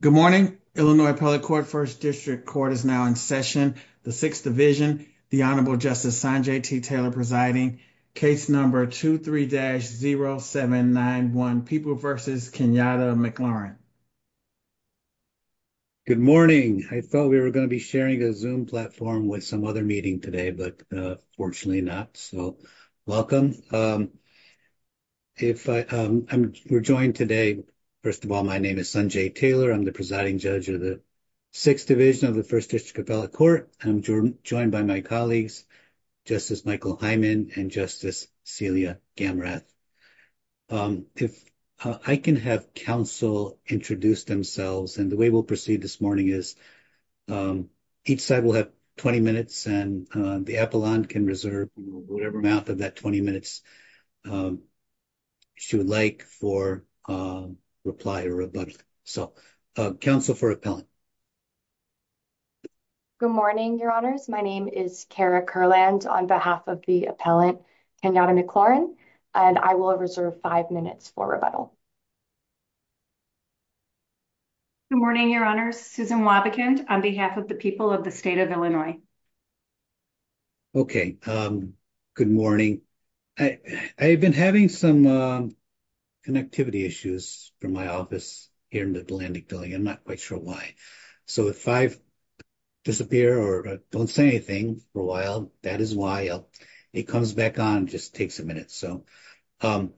Good morning, Illinois, public court 1st district court is now in session. The 6th division, the honorable justice Sanjay T. Taylor presiding case number 23-0791 people versus Kenyatta McLaurin. Good morning, I thought we were going to be sharing a zoom platform with some other meeting today, but fortunately not so welcome. Um, if we're joined today, first of all, my name is Sanjay Taylor. I'm the presiding judge of the 6th division of the 1st district appellate court. I'm joined by my colleagues, Justice Michael Hyman and Justice Celia Gamrath. If I can have counsel introduce themselves and the way we'll proceed this morning is. Each side will have 20 minutes and the appellant can reserve whatever amount of that 20 minutes. She would like for reply or rebuttal. So, counsel for appellant. Good morning, your honors my name is Kara Curland on behalf of the appellant Kenyatta McLaurin and I will reserve 5 minutes for rebuttal. Good morning, your honors Susan Wobbekin on behalf of the people of the state of Illinois. Okay, um, good morning. I, I've been having some connectivity issues from my office here in the Atlantic building. I'm not quite sure why. So if I've. Disappear or don't say anything for a while. That is why it comes back on just takes a minute. So, um.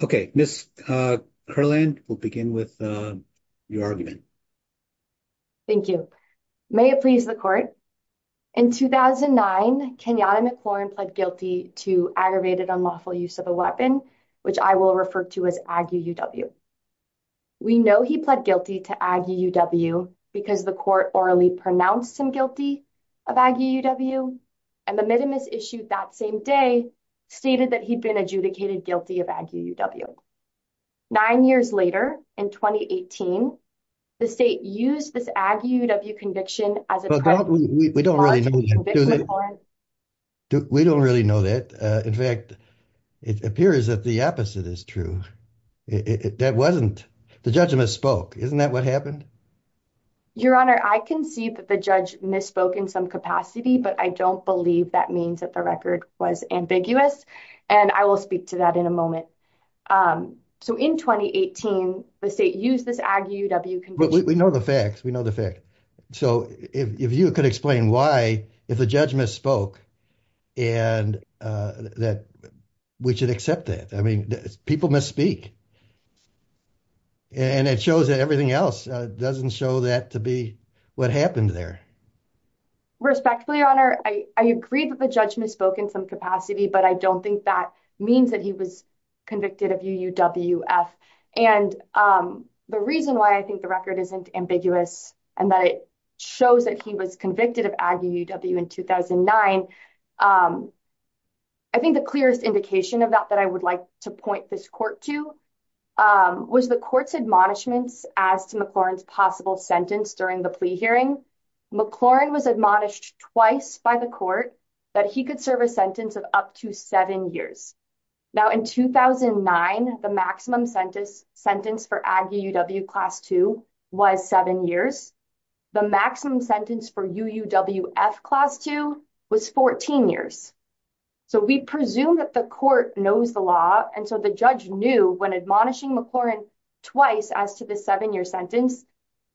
Okay, Miss Curland, we'll begin with your argument. Thank you. May it please the court. In 2009, Kenyatta McLaurin pled guilty to aggravated unlawful use of a weapon, which I will refer to as Ag UUW. We know he pled guilty to Ag UUW because the court orally pronounced him guilty. Of Ag UUW and the minimum is issued that same day. Stated that he'd been adjudicated guilty of Ag UUW. 9 years later in 2018. The state used this Ag UUW conviction as we don't really need it. We don't really know that. In fact, it appears that the opposite is true. That wasn't the judgment spoke. Isn't that what happened? Your honor, I can see that the judge misspoke in some capacity, but I don't believe that means that the record was ambiguous and I will speak to that in a moment. So, in 2018, the state use this Ag UUW conviction. We know the facts. We know the fact. So, if you could explain why, if the judgment spoke. And that we should accept that, I mean, people misspeak. And it shows that everything else doesn't show that to be what happened there. Respectfully, your honor, I agree that the judgment spoke in some capacity, but I don't think that means that he was. Convicted of UUWF and the reason why I think the record isn't ambiguous and that it. Shows that he was convicted of Ag UUW in 2009. I think the clearest indication of that that I would like to point this court to. Was the courts admonishments as to the Florence possible sentence during the plea hearing. McLaurin was admonished twice by the court. That he could serve a sentence of up to 7 years. Now, in 2009, the maximum sentence sentence for Ag UUW class 2 was 7 years. The maximum sentence for UUWF class 2 was 14 years. So, we presume that the court knows the law and so the judge knew when admonishing McLaurin. Twice as to the 7 year sentence,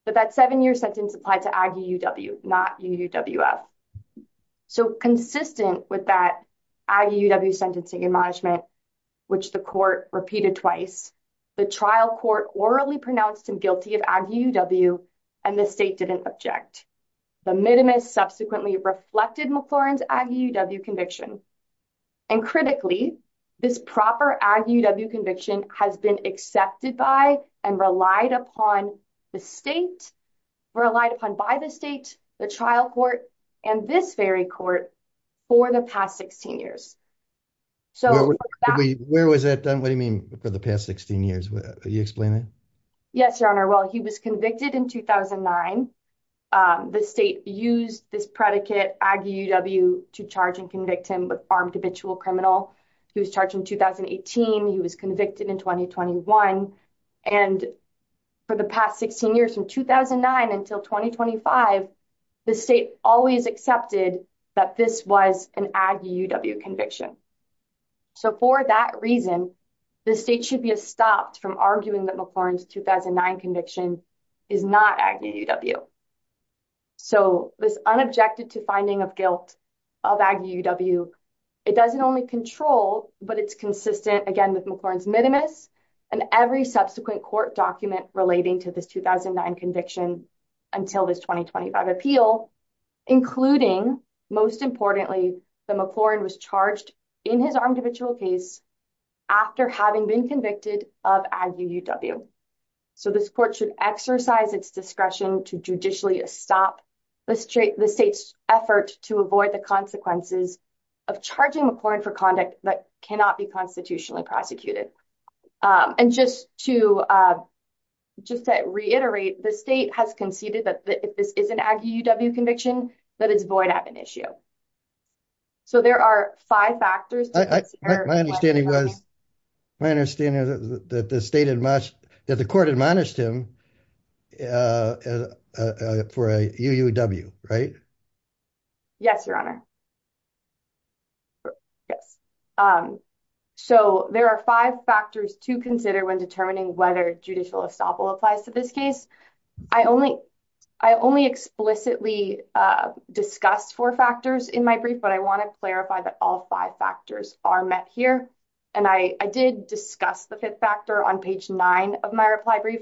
but that 7 year sentence applied to argue. Not. So, consistent with that sentencing admonishment. Which the court repeated twice the trial court orally pronounced and guilty of. And the state didn't object the minimus subsequently reflected McLaurin's conviction. And critically, this proper conviction has been accepted by and relied upon the state. Relied upon by the state, the trial court and this very court. For the past 16 years, so where was that done? What do you mean for the past 16 years? You explain it. Yes, your honor. Well, he was convicted in 2009. The state used this predicate Ag UUW to charge and convict him with armed habitual criminal. He was charged in 2018. He was convicted in 2021. And for the past 16 years from 2009 until 2025. The state always accepted that this was an Ag UUW conviction. So, for that reason, the state should be stopped from arguing that McLaurin's 2009 conviction is not Ag UUW. So, this unobjected to finding of guilt. Of Ag UUW, it doesn't only control, but it's consistent again with McLaurin's minimus. And every subsequent court document relating to this 2009 conviction. Until this 2025 appeal, including most importantly, the McLaurin was charged in his armed habitual case. After having been convicted of Ag UUW. So, this court should exercise its discretion to judicially stop. The state's effort to avoid the consequences. Of charging according for conduct that cannot be constitutionally prosecuted. And just to reiterate, the state has conceded that if this is an Ag UUW conviction, that it's void of an issue. So, there are 5 factors. My understanding is that the state that the court admonished him. For a UUW, right? Yes, your honor. Yes, so there are 5 factors to consider when determining whether judicial estoppel applies to this case. I only, I only explicitly discussed 4 factors in my brief, but I want to clarify that all 5 factors are met here. And I did discuss the 5th factor on page 9 of my reply brief.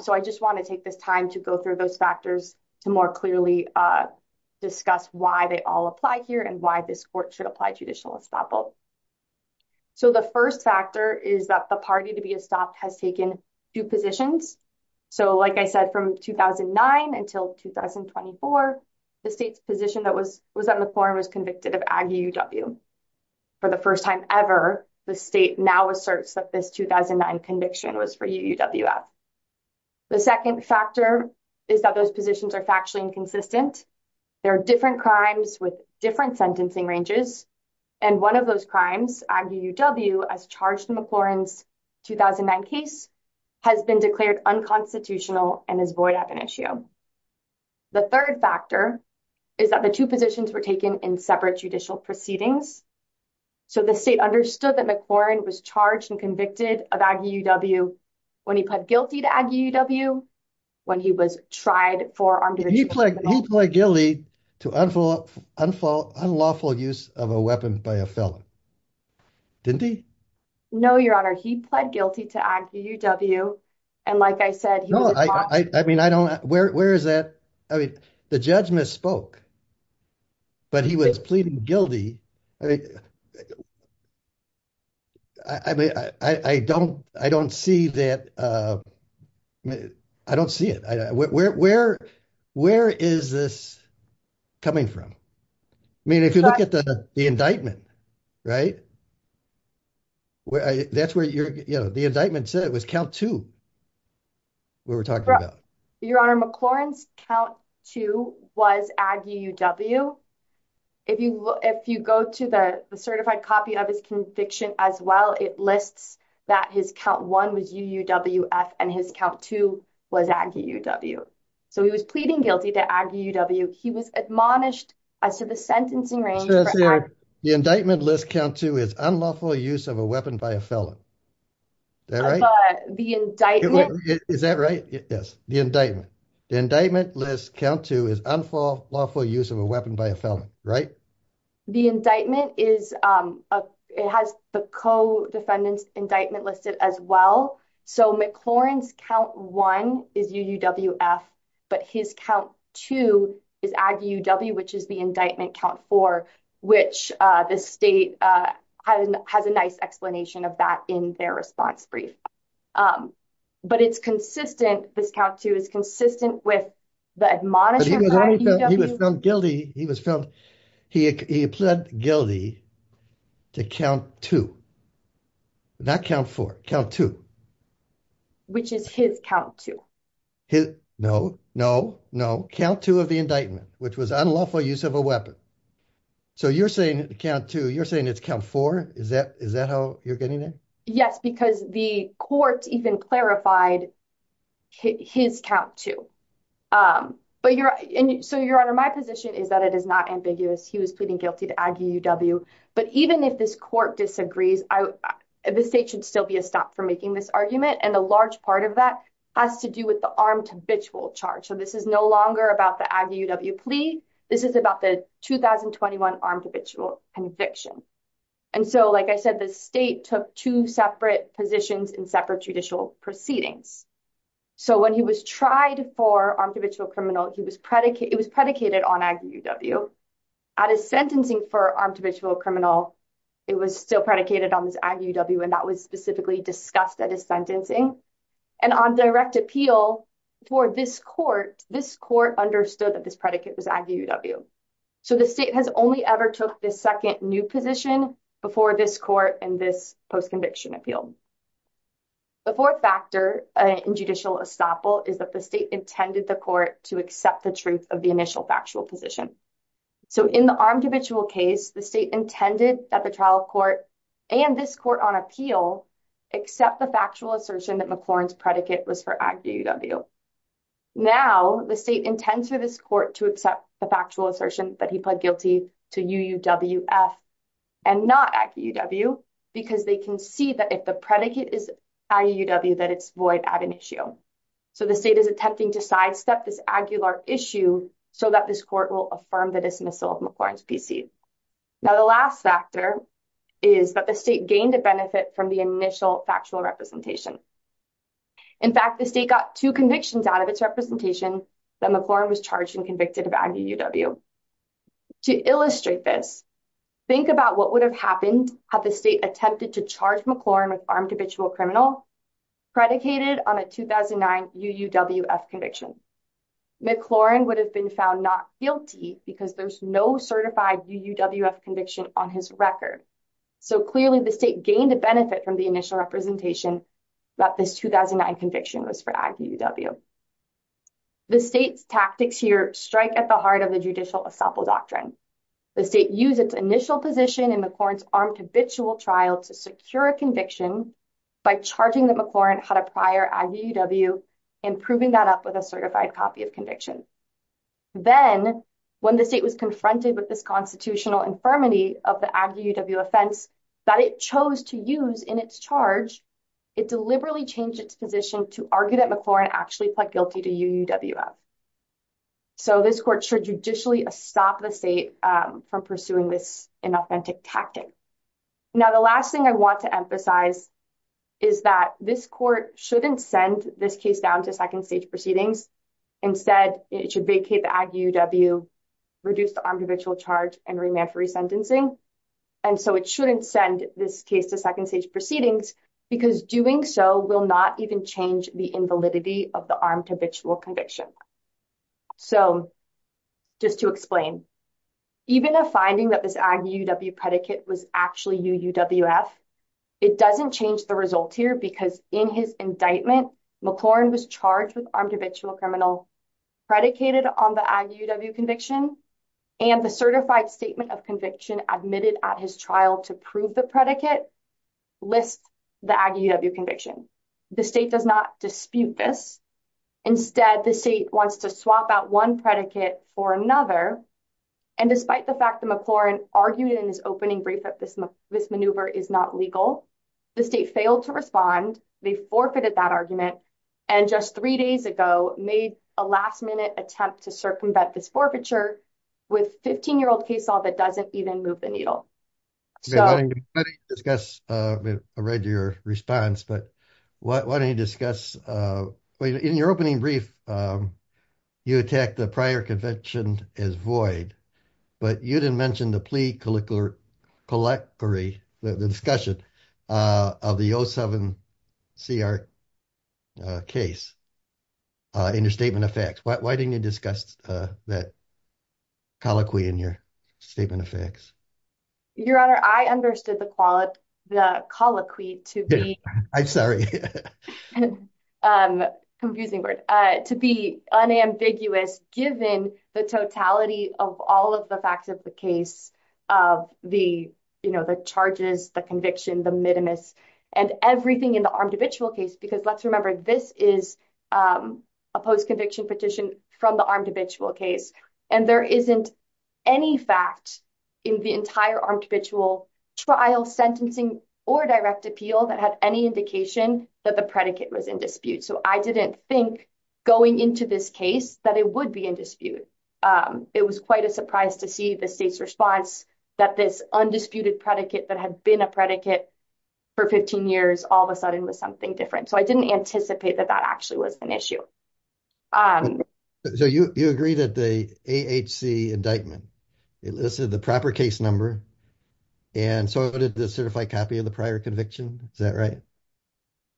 So, I just want to take this time to go through those factors to more clearly discuss why they all apply here and why this court should apply judicial estoppel. So, the 1st factor is that the party to be stopped has taken. Do positions so, like I said, from 2009 until 2024. The state's position that was was on the form was convicted of. For the 1st time ever, the state now asserts that this 2009 conviction was for UUWF. The 2nd factor is that those positions are factually inconsistent. There are different crimes with different sentencing ranges. And 1 of those crimes, Ag UUW, as charged in McLaurin's 2009 case, has been declared unconstitutional and is void of an issue. The 3rd factor is that the 2 positions were taken in separate judicial proceedings. So, the state understood that McLaurin was charged and convicted of Ag UUW. When he pled guilty to Ag UUW, when he was tried for armed. To unlawful use of a weapon by a felon. Didn't he? No, your honor, he pled guilty to Ag UUW. And like I said, I mean, I don't where, where is that? I mean, the judge misspoke, but he was pleading guilty. I mean, I don't, I don't see that I don't see it. Where, where, where is this coming from? I mean, if you look at the, the indictment, right, where I, that's where you're, you know, the indictment said it was count 2, what we're talking about. Your honor, McLaurin's count 2 was Ag UUW. If you, if you go to the certified copy of his conviction as well, it lists that his count 1 was UUWF and his count 2 was Ag UUW. So, he was pleading guilty to Ag UUW. He was admonished as to the sentencing range for Ag UUW. The indictment list count 2 is unlawful use of a weapon by a felon. Is that right? The indictment. Is that right? Yes, the indictment. The indictment list count 2 is unlawful use of a weapon by a felon, right? The indictment is, it has the co-defendant's indictment listed as well. So, McLaurin's count 1 is UUWF, but his count 2 is Ag UUW, which is the indictment count 4, which the state has a nice explanation of that in their response brief. But it's consistent, this count 2 is consistent with the admonishment. But he was only found, he was found guilty, he was found, he pled guilty to count 2, not count 4, count 2. Which is his count 2. His, no, no, no, count 2 of the indictment, which was unlawful use of a weapon. So you're saying count 2, you're saying it's count 4? Is that how you're getting it? Yes, because the court even clarified his count 2. But you're, so your honor, my position is that it is not ambiguous. He was pleading guilty to Ag UUW. But even if this court disagrees, the state should still be a stop for making this argument. And a large part of that has to do with the armed habitual charge. So this is no longer about the Ag UUW plea. This is about the 2021 armed habitual conviction. And so, like I said, the state took two separate positions in separate judicial proceedings. So when he was tried for armed habitual criminal, he was predicated, it was predicated on Ag UUW. At his sentencing for armed habitual criminal, it was still predicated on this Ag UUW, and that was specifically discussed at his sentencing. And on direct appeal for this court, this court understood that this predicate was Ag UUW. So the state has only ever took this second new position before this court and this post-conviction appeal. The fourth factor in judicial estoppel is that the state intended the court to accept the truth of the initial factual position. So in the armed habitual case, the state intended that the trial court and this court on appeal accept the factual assertion that McLaurin's predicate was for Ag UUW. Now, the state intends for this court to accept the factual assertion that he pled guilty to UUWF and not Ag UUW, because they can see that if the predicate is Ag UUW, that it's void at an issue. So the state is attempting to sidestep this Ag ULAR issue so that this court will affirm the dismissal of McLaurin's PC. Now, the last factor is that the state gained a benefit from the initial factual representation. In fact, the state got two convictions out of its representation that McLaurin was charged and convicted of Ag UUW. To illustrate this, think about what would have happened had the state attempted to charge McLaurin with armed habitual criminal predicated on a 2009 UUWF conviction. McLaurin would have been found not guilty because there's no certified UUWF conviction on his record. So clearly the state gained a benefit from the initial representation that this 2009 conviction was for Ag UUW. The state's tactics here strike at the heart of the judicial assemble doctrine. The state used its initial position in McLaurin's armed habitual trial to secure a conviction by charging that McLaurin had a prior Ag UUW and proving that up with a certified copy of conviction. Then when the state was confronted with this constitutional infirmity of the Ag UUW offense that it chose to use in its charge, it deliberately changed its position to argue that McLaurin actually pled guilty to UUWF. So this court should judicially stop the state from pursuing this inauthentic tactic. Now, the last thing I want to emphasize is that this court shouldn't send this case down to second stage proceedings. Instead, it should vacate the Ag UUW, reduce the armed habitual charge and remand for resentencing. And so it shouldn't send this case to second stage proceedings because doing so will not even change the invalidity of the armed habitual conviction. So just to explain, even a finding that this Ag UUW predicate was actually UUWF, it doesn't change the result here because in his indictment, McLaurin was charged with armed habitual criminal, predicated on the Ag UUW conviction and the certified statement of conviction admitted at his trial to prove the predicate lists the Ag UUW conviction. The state does not dispute this. Instead, the state wants to swap out one predicate for another. And despite the fact that McLaurin argued in his opening brief that this maneuver is not legal, the state failed to respond. They forfeited that argument. And just three days ago, made a last minute attempt to circumvent this forfeiture with 15-year-old case law that doesn't even move the needle. So- Let me discuss, I read your response, but why don't you discuss, well, in your opening brief, you attacked the prior conviction as void, but you didn't mention the plea colloquy, the discussion of the 07-CR case in your statement of facts. Why didn't you discuss that colloquy in your statement of facts? Your honor, I understood the colloquy to be- I'm sorry. Confusing word. To be unambiguous, given the totality of all of the facts of the case of the charges, the conviction, the minimus, and everything in the armed habitual case, because let's remember, this is a post-conviction petition from the armed habitual case. And there isn't any fact in the entire armed habitual trial sentencing or direct appeal that had any indication that the predicate was in dispute. So I didn't think going into this case that it would be in dispute. It was quite a surprise to see the state's response that this undisputed predicate that had been a predicate for 15 years, all of a sudden was something different. So I didn't anticipate that that actually was an issue. So you agree that the AHC indictment elicited the proper case number, and so did the certified copy of the prior conviction? Is that right?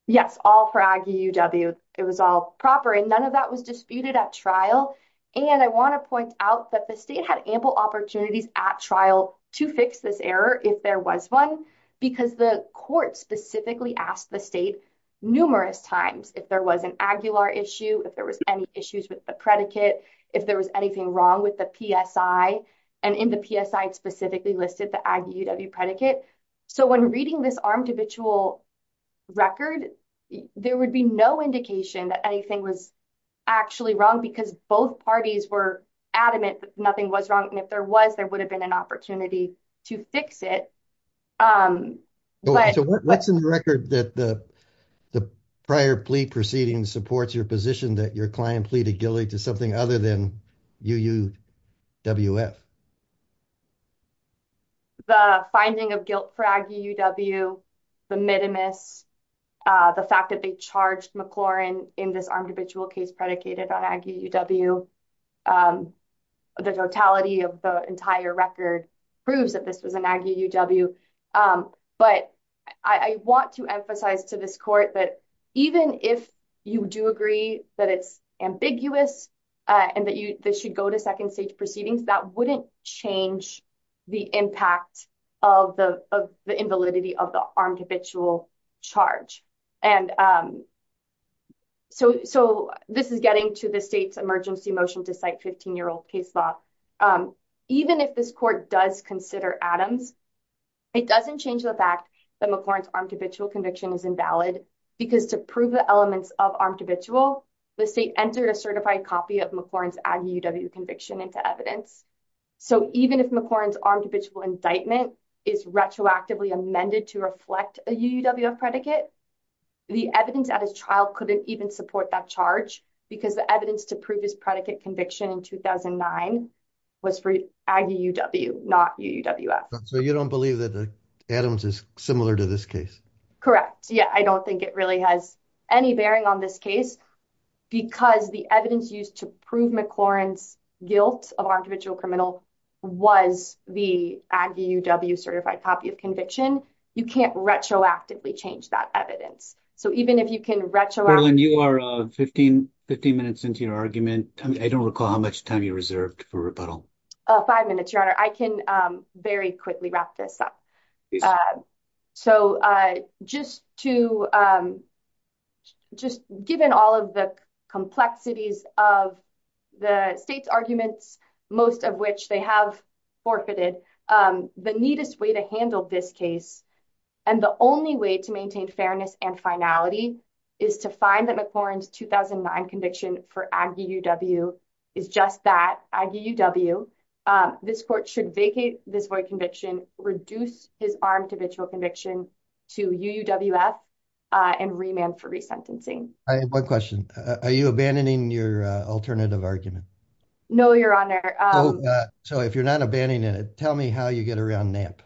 Yes, all for IUW. It was all proper, and none of that was disputed at trial. And I want to point out that the state had ample opportunities at trial to fix this error if there was one, because the court specifically asked the state numerous times if there was an Aguilar issue, if there was any issues with the predicate, if there was anything wrong with the PSI. And in the PSI, it specifically listed the IUW predicate. So when reading this armed habitual record, there would be no indication that anything was actually wrong, because both parties were adamant that nothing was wrong. And if there was, there would have been an opportunity to fix it. So what's in the record that the prior plea proceeding supports your position that your client pleaded guilty to something other than UUWF? The finding of guilt for IUW, the mitimus, the fact that they charged McLaurin in this armed habitual case predicated on Ag UUW, the totality of the entire record proves that this was an Ag UUW. But I want to emphasize to this court that even if you do agree that it's ambiguous and that this should go to second stage proceedings, that wouldn't change the impact of the invalidity of the armed habitual charge. And so this is getting to the state's emergency motion to cite 15-year-old case law. Even if this court does consider Adams, it doesn't change the fact that McLaurin's armed habitual conviction is invalid because to prove the elements of armed habitual, the state entered a certified copy of McLaurin's Ag UUW conviction into evidence. So even if McLaurin's armed habitual indictment is retroactively amended to reflect a UUW predicate, the evidence at his trial couldn't even support that charge because the evidence to prove his predicate conviction in 2009 was for Ag UUW, not UUWF. So you don't believe that Adams is similar to this case? Correct. Yeah, I don't think it really has any bearing on this case because the evidence used to prove McLaurin's guilt of armed habitual criminal was the Ag UUW certified copy of conviction. You can't retroactively change that evidence. So even if you can retroactively- Carolyn, you are 15 minutes into your argument. I don't recall how much time you reserved for rebuttal. Five minutes, your honor. I can very quickly wrap this up. So just to, just given all of the complexities of the state's arguments, most of which they have forfeited, the neatest way to handle this case and the only way to maintain fairness and finality is to find that McLaurin's 2009 conviction for Ag UUW is just that, Ag UUW. This court should vacate this void conviction, reduce his armed habitual conviction to UUWF and remand for resentencing. I have one question. Are you abandoning your alternative argument? No, your honor. So if you're not abandoning it, tell me how you get around Knapp.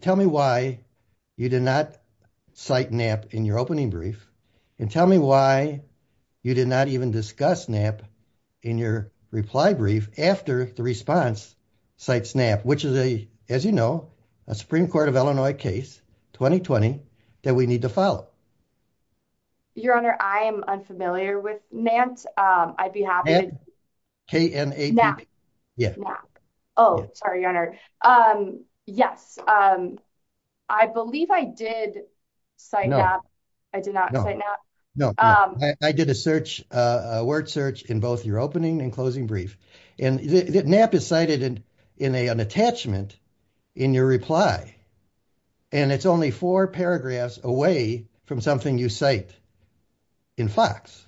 Tell me why you did not cite Knapp in your opening brief and tell me why you did not even discuss Knapp in your reply brief after the response cites Knapp, which is, as you know, a Supreme Court of Illinois case, 2020, that we need to follow. Your honor, I am unfamiliar with Nantz. I'd be happy to- K-N-A-P-P. Yeah. Knapp. Oh, sorry, your honor. Yes, I believe I did cite Knapp. I did not cite Knapp. No, I did a search, a word search in both your opening and closing brief. And Knapp is cited in an attachment in your reply. And it's only four paragraphs away from something you cite in Fox,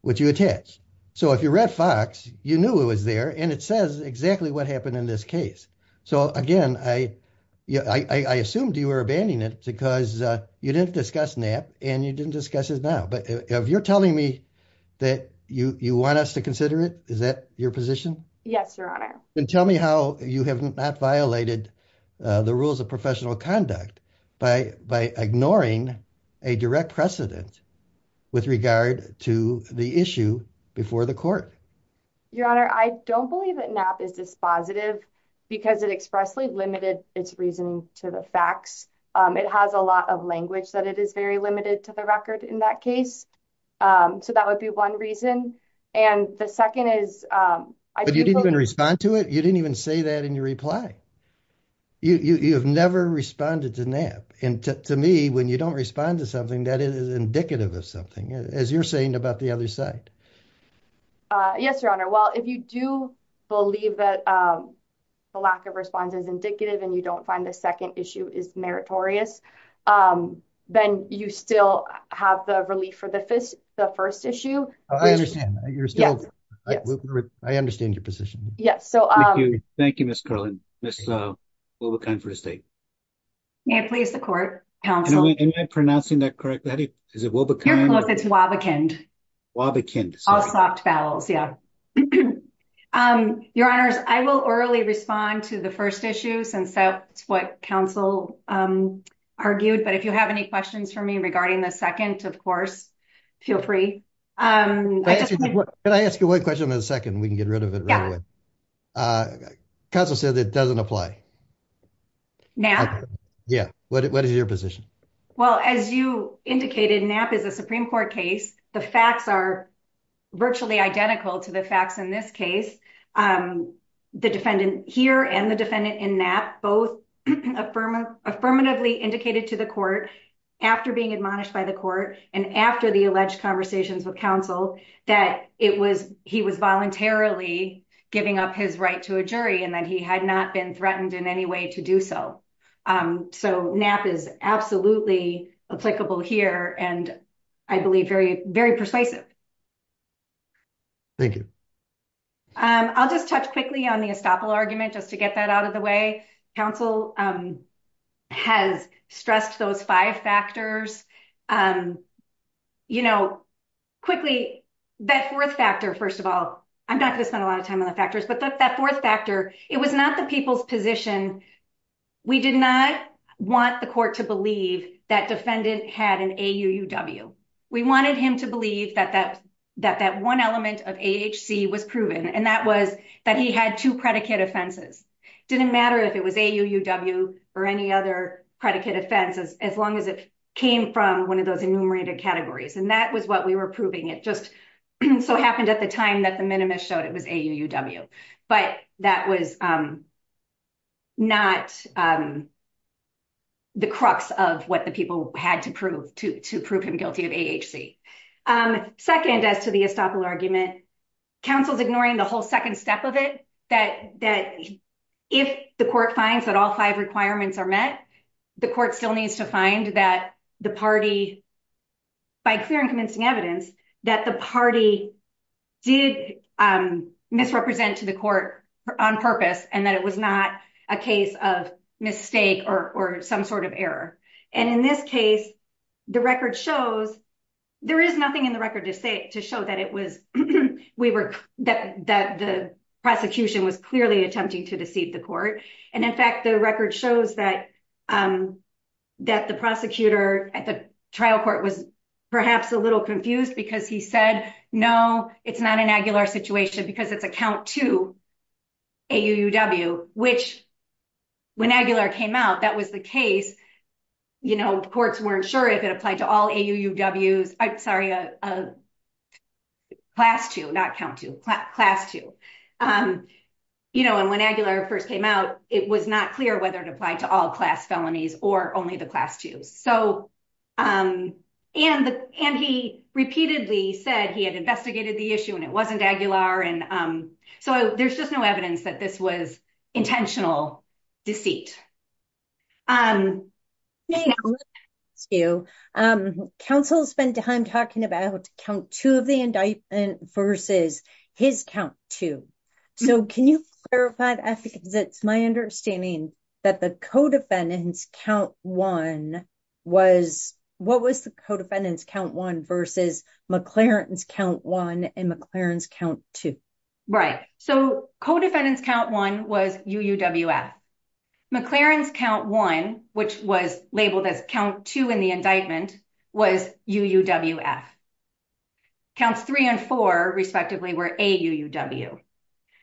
which you attach. So if you read Fox, you knew it was there and it says exactly what happened in this case. So again, I assumed you were abandoning it because you didn't discuss Knapp and you didn't discuss it now. But if you're telling me that you want us to consider it, is that your position? Yes, your honor. And tell me how you have not violated the rules of professional conduct by ignoring a direct precedent with regard to the issue before the court. Your honor, I don't believe that Knapp is dispositive because it expressly limited its reasoning to the facts. It has a lot of language that it is very limited to the record in that case. So that would be one reason. And the second is- But you didn't even respond to it. You didn't even say that in your reply. You have never responded to Knapp. And to me, when you don't respond to something, that is indicative of something, as you're saying about the other side. Yes, your honor. Well, if you do believe that the lack of response is indicative and you don't find the second issue is meritorious, then you still have the relief for the first issue. I understand. You're still- Yes. I understand your position. Yes. Thank you, Ms. Carlin. Ms. Wobbekind for the state. May it please the court, counsel. Am I pronouncing that correctly? Is it Wobbekind? You're close, it's Wobbekind. Wobbekind. All soft vowels, yeah. Your honors, I will orally respond to the first issue since that's what counsel argued. But if you have any questions for me regarding the second, of course, feel free. Can I ask you one question in a second? We can get rid of it right away. Counsel said that it doesn't apply. Yeah. What is your position? Well, as you indicated, Knapp is a Supreme Court case. The facts are virtually identical to the facts in this case. The defendant here and the defendant in Knapp, both affirmatively indicated to the court after being admonished by the court and after the alleged conversation with counsel that he was voluntarily giving up his right to a jury and that he had not been threatened in any way to do so. So Knapp is absolutely applicable here and I believe very, very persuasive. Thank you. I'll just touch quickly on the estoppel argument just to get that out of the way. Counsel has stressed those five factors. Quickly, that fourth factor, first of all, I'm not gonna spend a lot of time on the factors, but that fourth factor, it was not the people's position. We did not want the court to believe that defendant had an AUUW. We wanted him to believe that that one element of AHC was proven and that was that he had two predicate offenses. Didn't matter if it was AUUW or any other predicate offenses as long as it came from one of those enumerated categories. And that was what we were proving. It just so happened at the time that the minimus showed it was AUUW. But that was not the crux of what the people had to prove to prove him guilty of AHC. Second, as to the estoppel argument, counsel's ignoring the whole second step of it that if the court finds that all five requirements are met, the court still needs to find that the party, by clear and convincing evidence, that the party did misrepresent to the court on purpose and that it was not a case of mistake or some sort of error. And in this case, the record shows, there is nothing in the record to say, to show that it was, we were, that the prosecution was clearly attempting to deceive the court. And in fact, the record shows that the prosecutor at the trial court was perhaps a little confused because he said, no, it's not an AGULAR situation because it's a count two AUUW, which when AGULAR came out, that was the case. Courts weren't sure if it applied to all AUUWs, sorry, class two, not count two, class two. And when AGULAR first came out, it was not clear whether it applied to all class felonies or only the class twos. So, and he repeatedly said he had investigated the issue and it wasn't AGULAR. And so there's just no evidence that this was intentional deceit. Thank you. Counsel spent time talking about count two of the indictment versus his count two. So can you clarify that because it's my understanding that the co-defendants count one was, what was the co-defendants count one versus McLaren's count one and McLaren's count two? Right. So co-defendants count one was UUWF. McLaren's count one, which was labeled as count two in the indictment was UUWF. Counts three and four respectively were AUUW.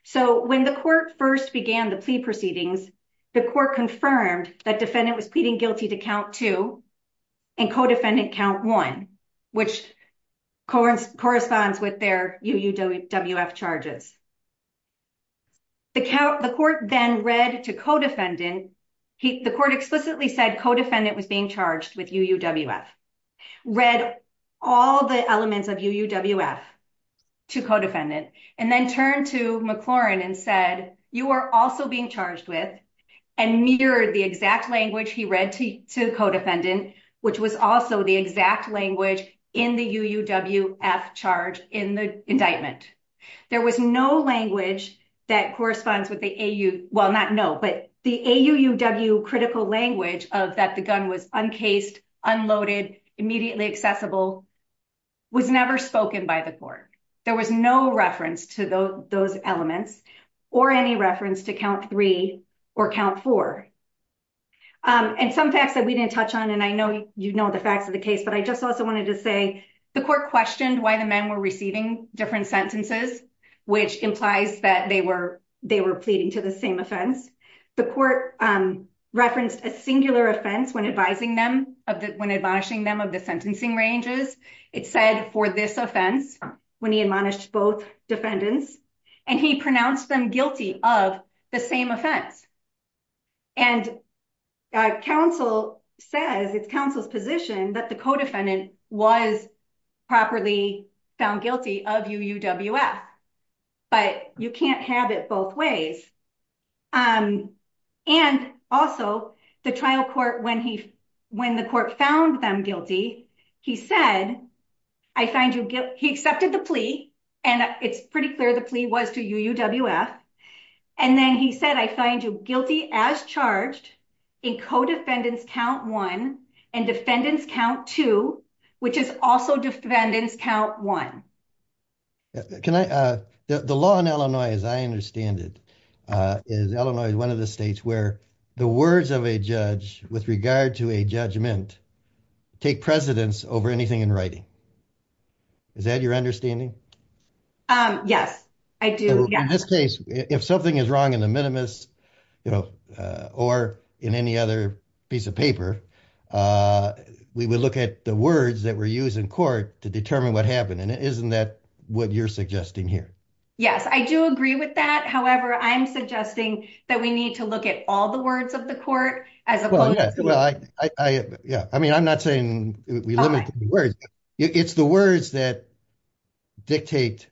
So when the court first began the plea proceedings, the court confirmed that defendant was pleading guilty to count two and co-defendant count one, which corresponds with their UUWF charges. The court then read to co-defendant, the court explicitly said co-defendant was being charged with UUWF. Read all the elements of UUWF to co-defendant and then turned to McLaren and said, you are also being charged with and mirrored the exact language he read to co-defendant, which was also the exact language in the UUWF charge in the indictment. There was no language that corresponds with the AU, well, not no, but the AUUW critical language of that the gun was uncased, unloaded, immediately accessible was never spoken by the court. There was no reference to those elements or any reference to count three or count four. And some facts that we didn't touch on, and I know you know the facts of the case, but I just also wanted to say the court questioned why the men were receiving different sentences, which implies that they were pleading to the same offense. The court referenced a singular offense when advising them of the, when admonishing them of the sentencing ranges, it said for this offense when he admonished both defendants and he pronounced them guilty of the same offense. And counsel says it's counsel's position that the co-defendant was properly found guilty of UUWF, but you can't have it both ways. And also the trial court, when the court found them guilty, he said, I find you, he accepted the plea and it's pretty clear the plea was to UUWF. And then he said, I find you guilty as charged in co-defendants count one and defendants count two, which is also defendants count one. Can I, the law in Illinois, as I understand it, is Illinois is one of the states where the words of a judge with regard to a judgment take precedence over anything in writing. Is that your understanding? Yes, I do. In this case, if something is wrong in the minimus, or in any other piece of paper, we would look at the words that were used in court to determine what happened. And isn't that what you're suggesting here? Yes, I do agree with that. However, I'm suggesting that we need to look at all the words of the court as opposed to- Well, yeah, I mean, I'm not saying we limit the words. It's the words that dictate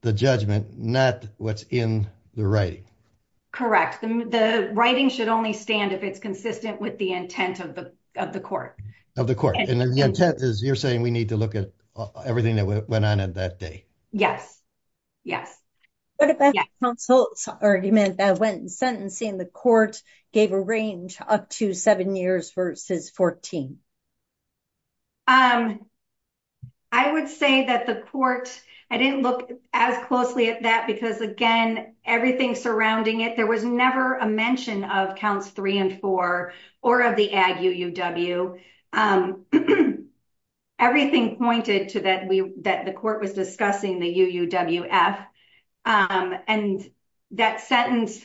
the judgment, not what's in the writing. Correct, the writing should only stand if it's consistent with the intent of the court. Of the court, and the intent is you're saying we need to look at everything that went on at that day. Yes, yes. What about counsel's argument that went in sentencing the court gave a range up to seven years versus 14? I would say that the court, I didn't look as closely at that because again, everything surrounding it, there was never a mention of counts three and four or of the ag UUW. Everything pointed to that the court was discussing the UUWF. And that sentence,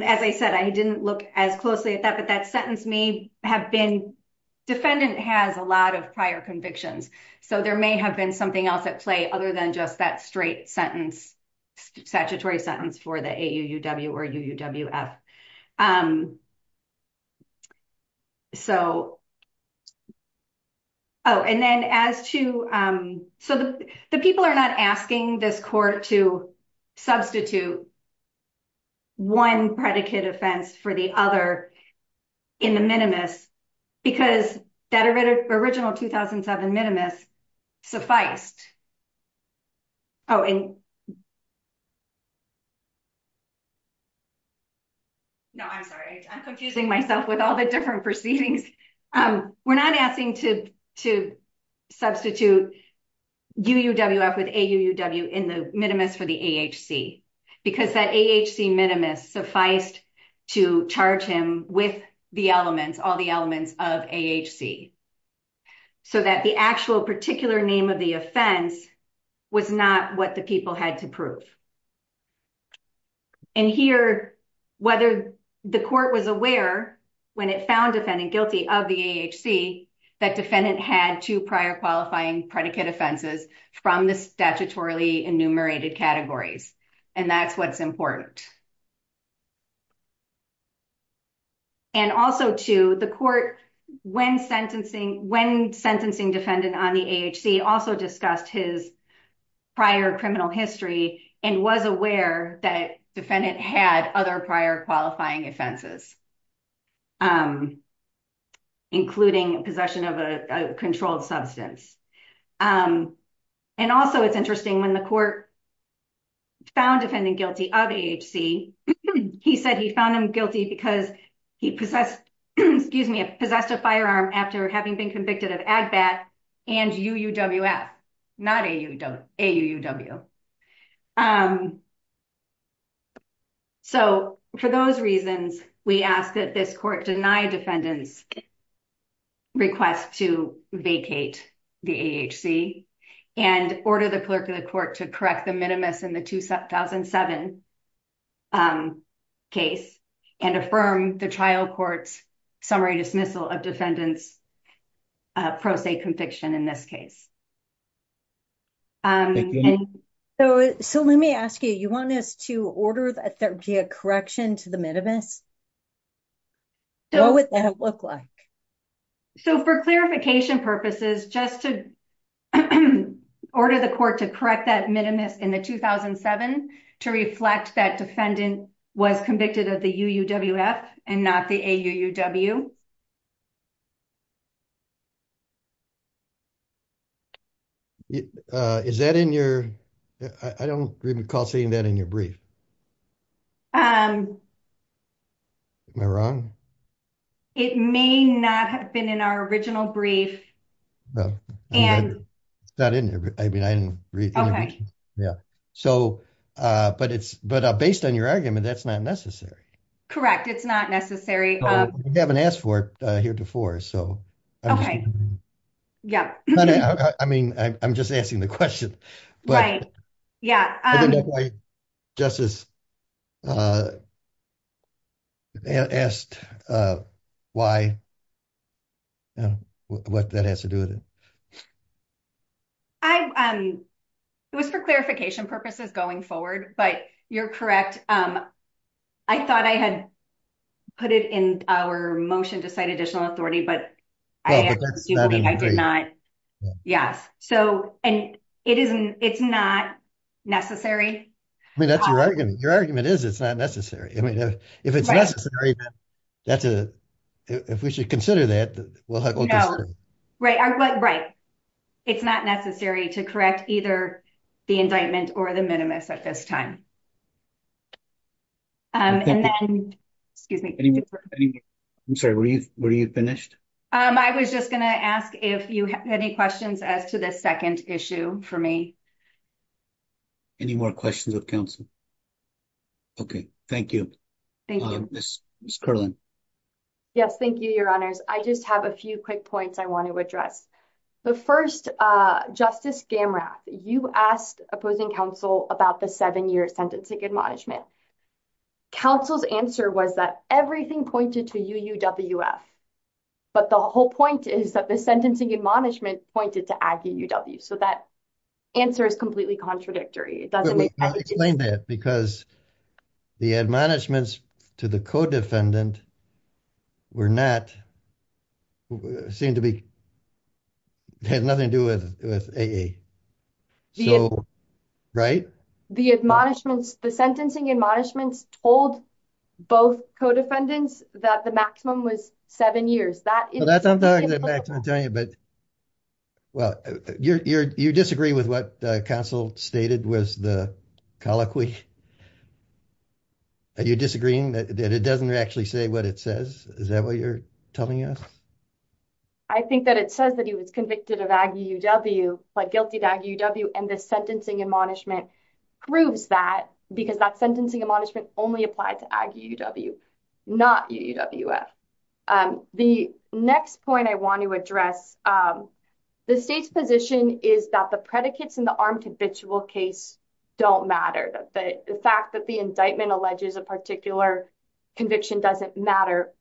as I said, I didn't look as closely at that, but that sentence may have been, defendant has a lot of prior convictions. So there may have been something else at play other than just that straight sentence, statutory sentence for the AUUW or UUWF. So, oh, and then as to, so the people are not asking this court to substitute one predicate offense for the other in the minimus because that original 2007 minimus sufficed. Oh, and, no, I'm sorry. I'm confusing myself with all the different proceedings. We're not asking to substitute UUWF with AUUW in the minimus for the AHC because that AHC minimus sufficed to charge him with the elements, all the elements of AHC so that the actual particular name of the offense was not what the people had to prove. And here, whether the court was aware when it found defendant guilty of the AHC that defendant had two prior qualifying predicate offenses from the statutorily enumerated categories. And that's what's important. And also to the court, when sentencing defendant on the AHC also discussed his prior criminal history and was aware that defendant had other prior qualifying offenses. Including possession of a controlled substance. And also it's interesting when the court found defendant guilty of AHC, he said he found him guilty because he possessed, excuse me, possessed a firearm after having been convicted of AGBAT and UUWF, not AUUW. So for those reasons, we ask that this court deny defendant's request to vacate the AHC and order the clerk of the court to correct the minimus in the 2007 case and affirm the trial court's summary dismissal of defendant's pro se conviction in this case. And so let me ask you, you want us to order a correction to the minimus? What would that look like? So for clarification purposes, just to order the court to correct that minimus in the 2007 to reflect that defendant was convicted of the UUWF and not the AUUW. Is that in your, I don't recall seeing that in your brief. Am I wrong? It may not have been in our original brief. It's not in there. I mean, I didn't read it. Yeah. So, but based on your argument, that's not necessary. Correct, it's not necessary. We haven't asked for it here before, so. Yeah. I mean, I'm just asking the question. Right, yeah. I don't know why Justice asked why, what that has to do with it. It was for clarification purposes going forward, but you're correct. I thought I had put it in our motion to cite additional authority, but I did not, yes. So, and it's not necessary. I mean, that's your argument. Your argument is it's not necessary. I mean, if it's necessary, that's a, if we should consider that, we'll just say. Right, but right. It's not necessary to correct either the indictment or the minimus at this time. And then, excuse me. Any more, I'm sorry, were you finished? I was just gonna ask if you have any questions as to this second issue for me. Any more questions of counsel? Okay, thank you. Thank you. Ms. Kerlin. Yes, thank you, your honors. I just have a few quick points I want to address. The first, Justice Gamrath, you asked opposing counsel about the seven-year sentencing admonishment. And counsel's answer was that everything pointed to UUWF, but the whole point is that the sentencing admonishment pointed to AGUW. So that answer is completely contradictory. It doesn't make sense. I'll explain that because the admonishments to the co-defendant were not, seemed to be, had nothing to do with AA. Right? The admonishments, the sentencing admonishments told both co-defendants that the maximum was seven years. That is- That's what I'm talking about, but, well, you disagree with what counsel stated was the colloquy? Are you disagreeing that it doesn't actually say what it says? Is that what you're telling us? I think that it says that he was convicted of AGUW, pled guilty to AGUW, and the sentencing admonishment proves that because that sentencing admonishment only applied to AGUW, not UUWF. The next point I want to address, the state's position is that the predicates in the armed habitual case don't matter. The fact that the indictment alleges a particular conviction doesn't matter.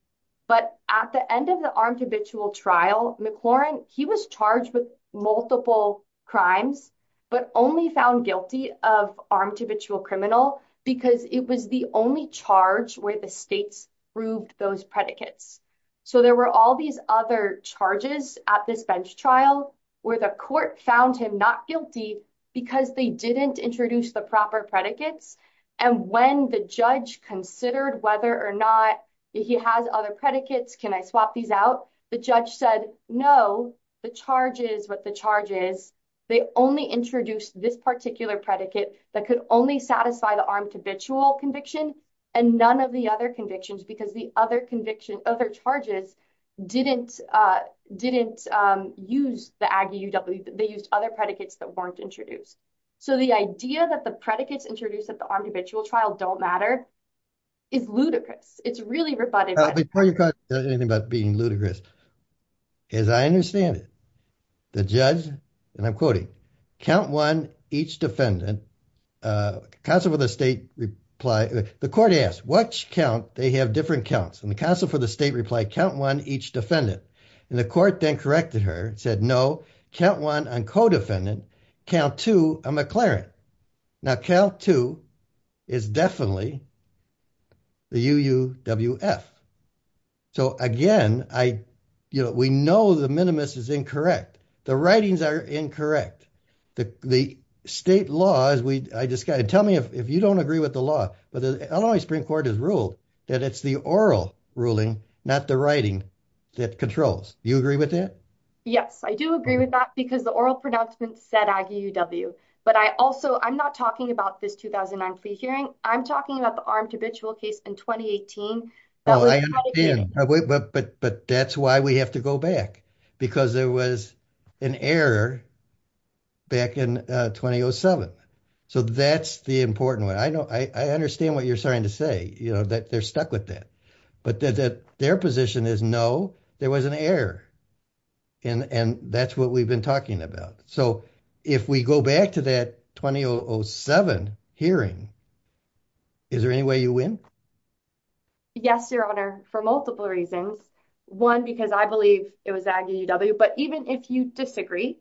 But at the end of the armed habitual trial, McLaurin, he was charged with multiple crimes, but only found guilty of armed habitual criminal because it was the only charge where the states proved those predicates. So there were all these other charges at this bench trial where the court found him not guilty because they didn't introduce the proper predicates. And when the judge considered whether or not he has other predicates, can I swap these out? The judge said, no, the charge is what the charge is. They only introduced this particular predicate that could only satisfy the armed habitual conviction and none of the other convictions because the other conviction, other charges didn't use the AGUW. They used other predicates that weren't introduced. So the idea that the predicates introduced at the armed habitual trial don't matter is ludicrous. It's really rebuttable. Now, before you talk about being ludicrous, as I understand it, the judge, and I'm quoting, count one, each defendant, counsel for the state reply, the court asked, which count, they have different counts. And the counsel for the state replied, count one, each defendant. And the court then corrected her and said, no, count one on co-defendant, count two on McLaurin. Now, count two is definitely the UUWF. So again, we know the minimus is incorrect. The writings are incorrect. The state laws, I just gotta, tell me if you don't agree with the law, but the Illinois Supreme Court has ruled that it's the oral ruling, not the writing, that controls. You agree with that? Yes, I do agree with that because the oral pronouncements said AGUW, but I also, I'm not talking about this 2009 plea hearing. I'm talking about the armed habitual case in 2018 that was tried again. But that's why we have to go back because there was an error back in 2007. So that's the important one. I know, I understand what you're starting to say, you know, that they're stuck with that, but their position is, no, there was an error. And that's what we've been talking about. So if we go back to that 2007 hearing, is there any way you win? Yes, Your Honor, for multiple reasons. One, because I believe it was AGUW, but even if you disagree,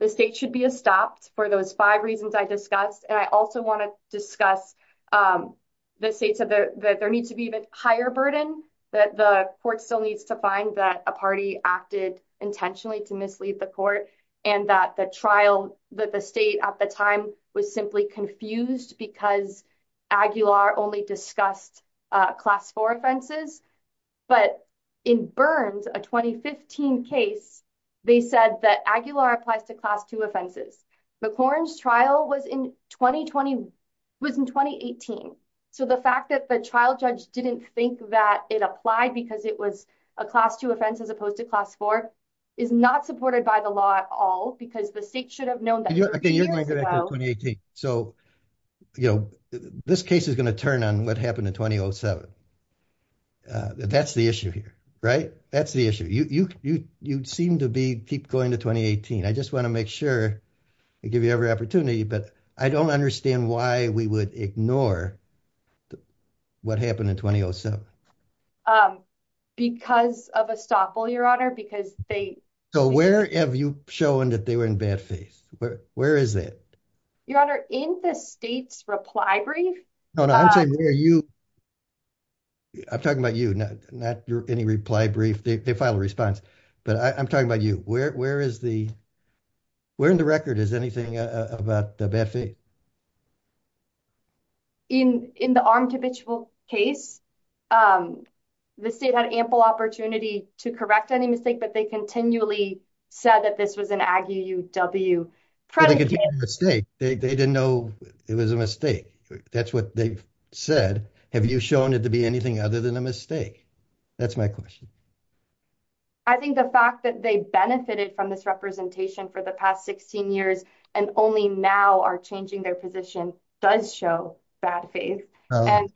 the state should be stopped for those five reasons I discussed. And I also wanna discuss, the state said that there needs to be even higher burden, that the court still needs to find that a party acted intentionally to mislead the court and that the trial, that the state at the time was simply confused because AGUW only discussed class four offenses. But in Burns, a 2015 case, they said that AGUW applies to class two offenses. McCormick's trial was in 2018. So the fact that the trial judge didn't think that it applied because it was a class two offense as opposed to class four, is not supported by the law at all because the state should have known that years ago. So, this case is gonna turn on what happened in 2007. That's the issue here, right? That's the issue. You seem to be keep going to 2018. I just wanna make sure I give you every opportunity, but I don't understand why we would ignore what happened in 2007. Because of estoppel, Your Honor, because they- So where have you shown that they were in bad faith? Where is it? Your Honor, in the state's reply brief. No, no, I'm talking about you, not any reply brief. They filed a response. But I'm talking about you. Where in the record is anything about the bad faith? In the armed habitual case, the state had ample opportunity to correct any mistake, but they continually said that this was an AGUW- Predicate- They didn't know it was a mistake. That's what they've said. Have you shown it to be anything other than a mistake? That's my question. I think the fact that they benefited from this representation for the past 16 years and only now are changing their position does show bad faith. If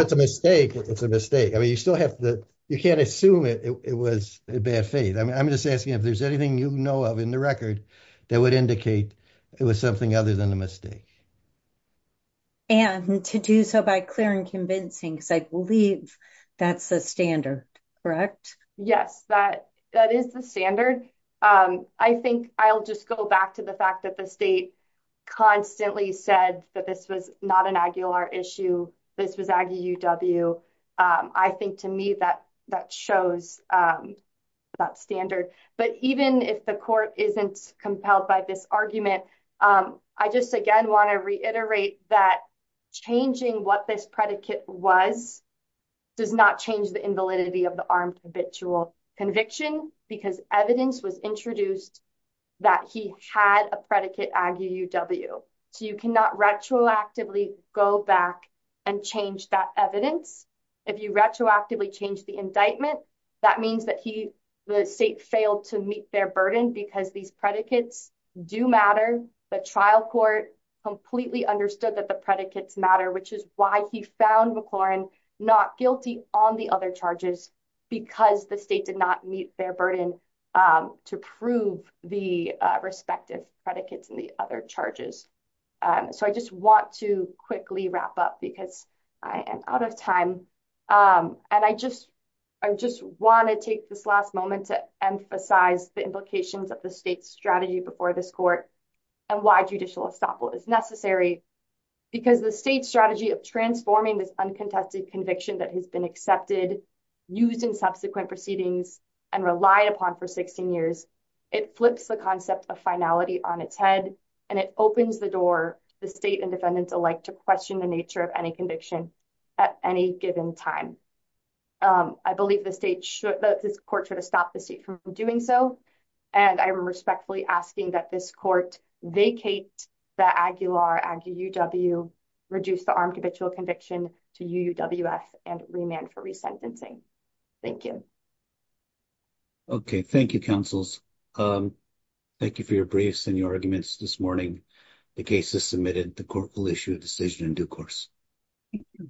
it's a mistake, it's a mistake. I mean, you still have to, you can't assume it was a bad faith. I'm just asking if there's anything you know of in the record that would indicate it was something other than a mistake. Anne, to do so by clear and convincing, because I believe that's the standard, correct? Yes, that is the standard. I think I'll just go back to the fact that the state constantly said that this was not an AGUW issue. This was AGUW. I think to me, that shows that standard. But even if the court isn't compelled by this argument, I just, again, wanna reiterate that changing what this predicate was does not change the invalidity of the armed habitual conviction because evidence was introduced that he had a predicate AGUW. So you cannot retroactively go back and change that evidence. If you retroactively change the indictment, that means that the state failed to meet their burden because these predicates do matter. The trial court completely understood that the predicates matter, which is why he found McLaurin not guilty on the other charges because the state did not meet their burden to prove the respective predicates in the other charges. So I just want to quickly wrap up because I am out of time. And I just wanna take this last moment to emphasize the implications of the state's strategy before this court and why judicial estoppel is necessary because the state's strategy of transforming this uncontested conviction that has been accepted, used in subsequent proceedings and relied upon for 16 years, it flips the concept of finality on its head and it opens the door the state and defendants alike to question the nature of any conviction at any given time. I believe this court should have stopped the state from doing so. And I am respectfully asking that this court vacate the Aguilar-Aguiw, reduce the armed habitual conviction to UUWF and remand for resentencing. Thank you. Okay, thank you, counsels. Thank you for your briefs and your arguments this morning. The case is submitted. The court will issue a decision in due course. Thank you.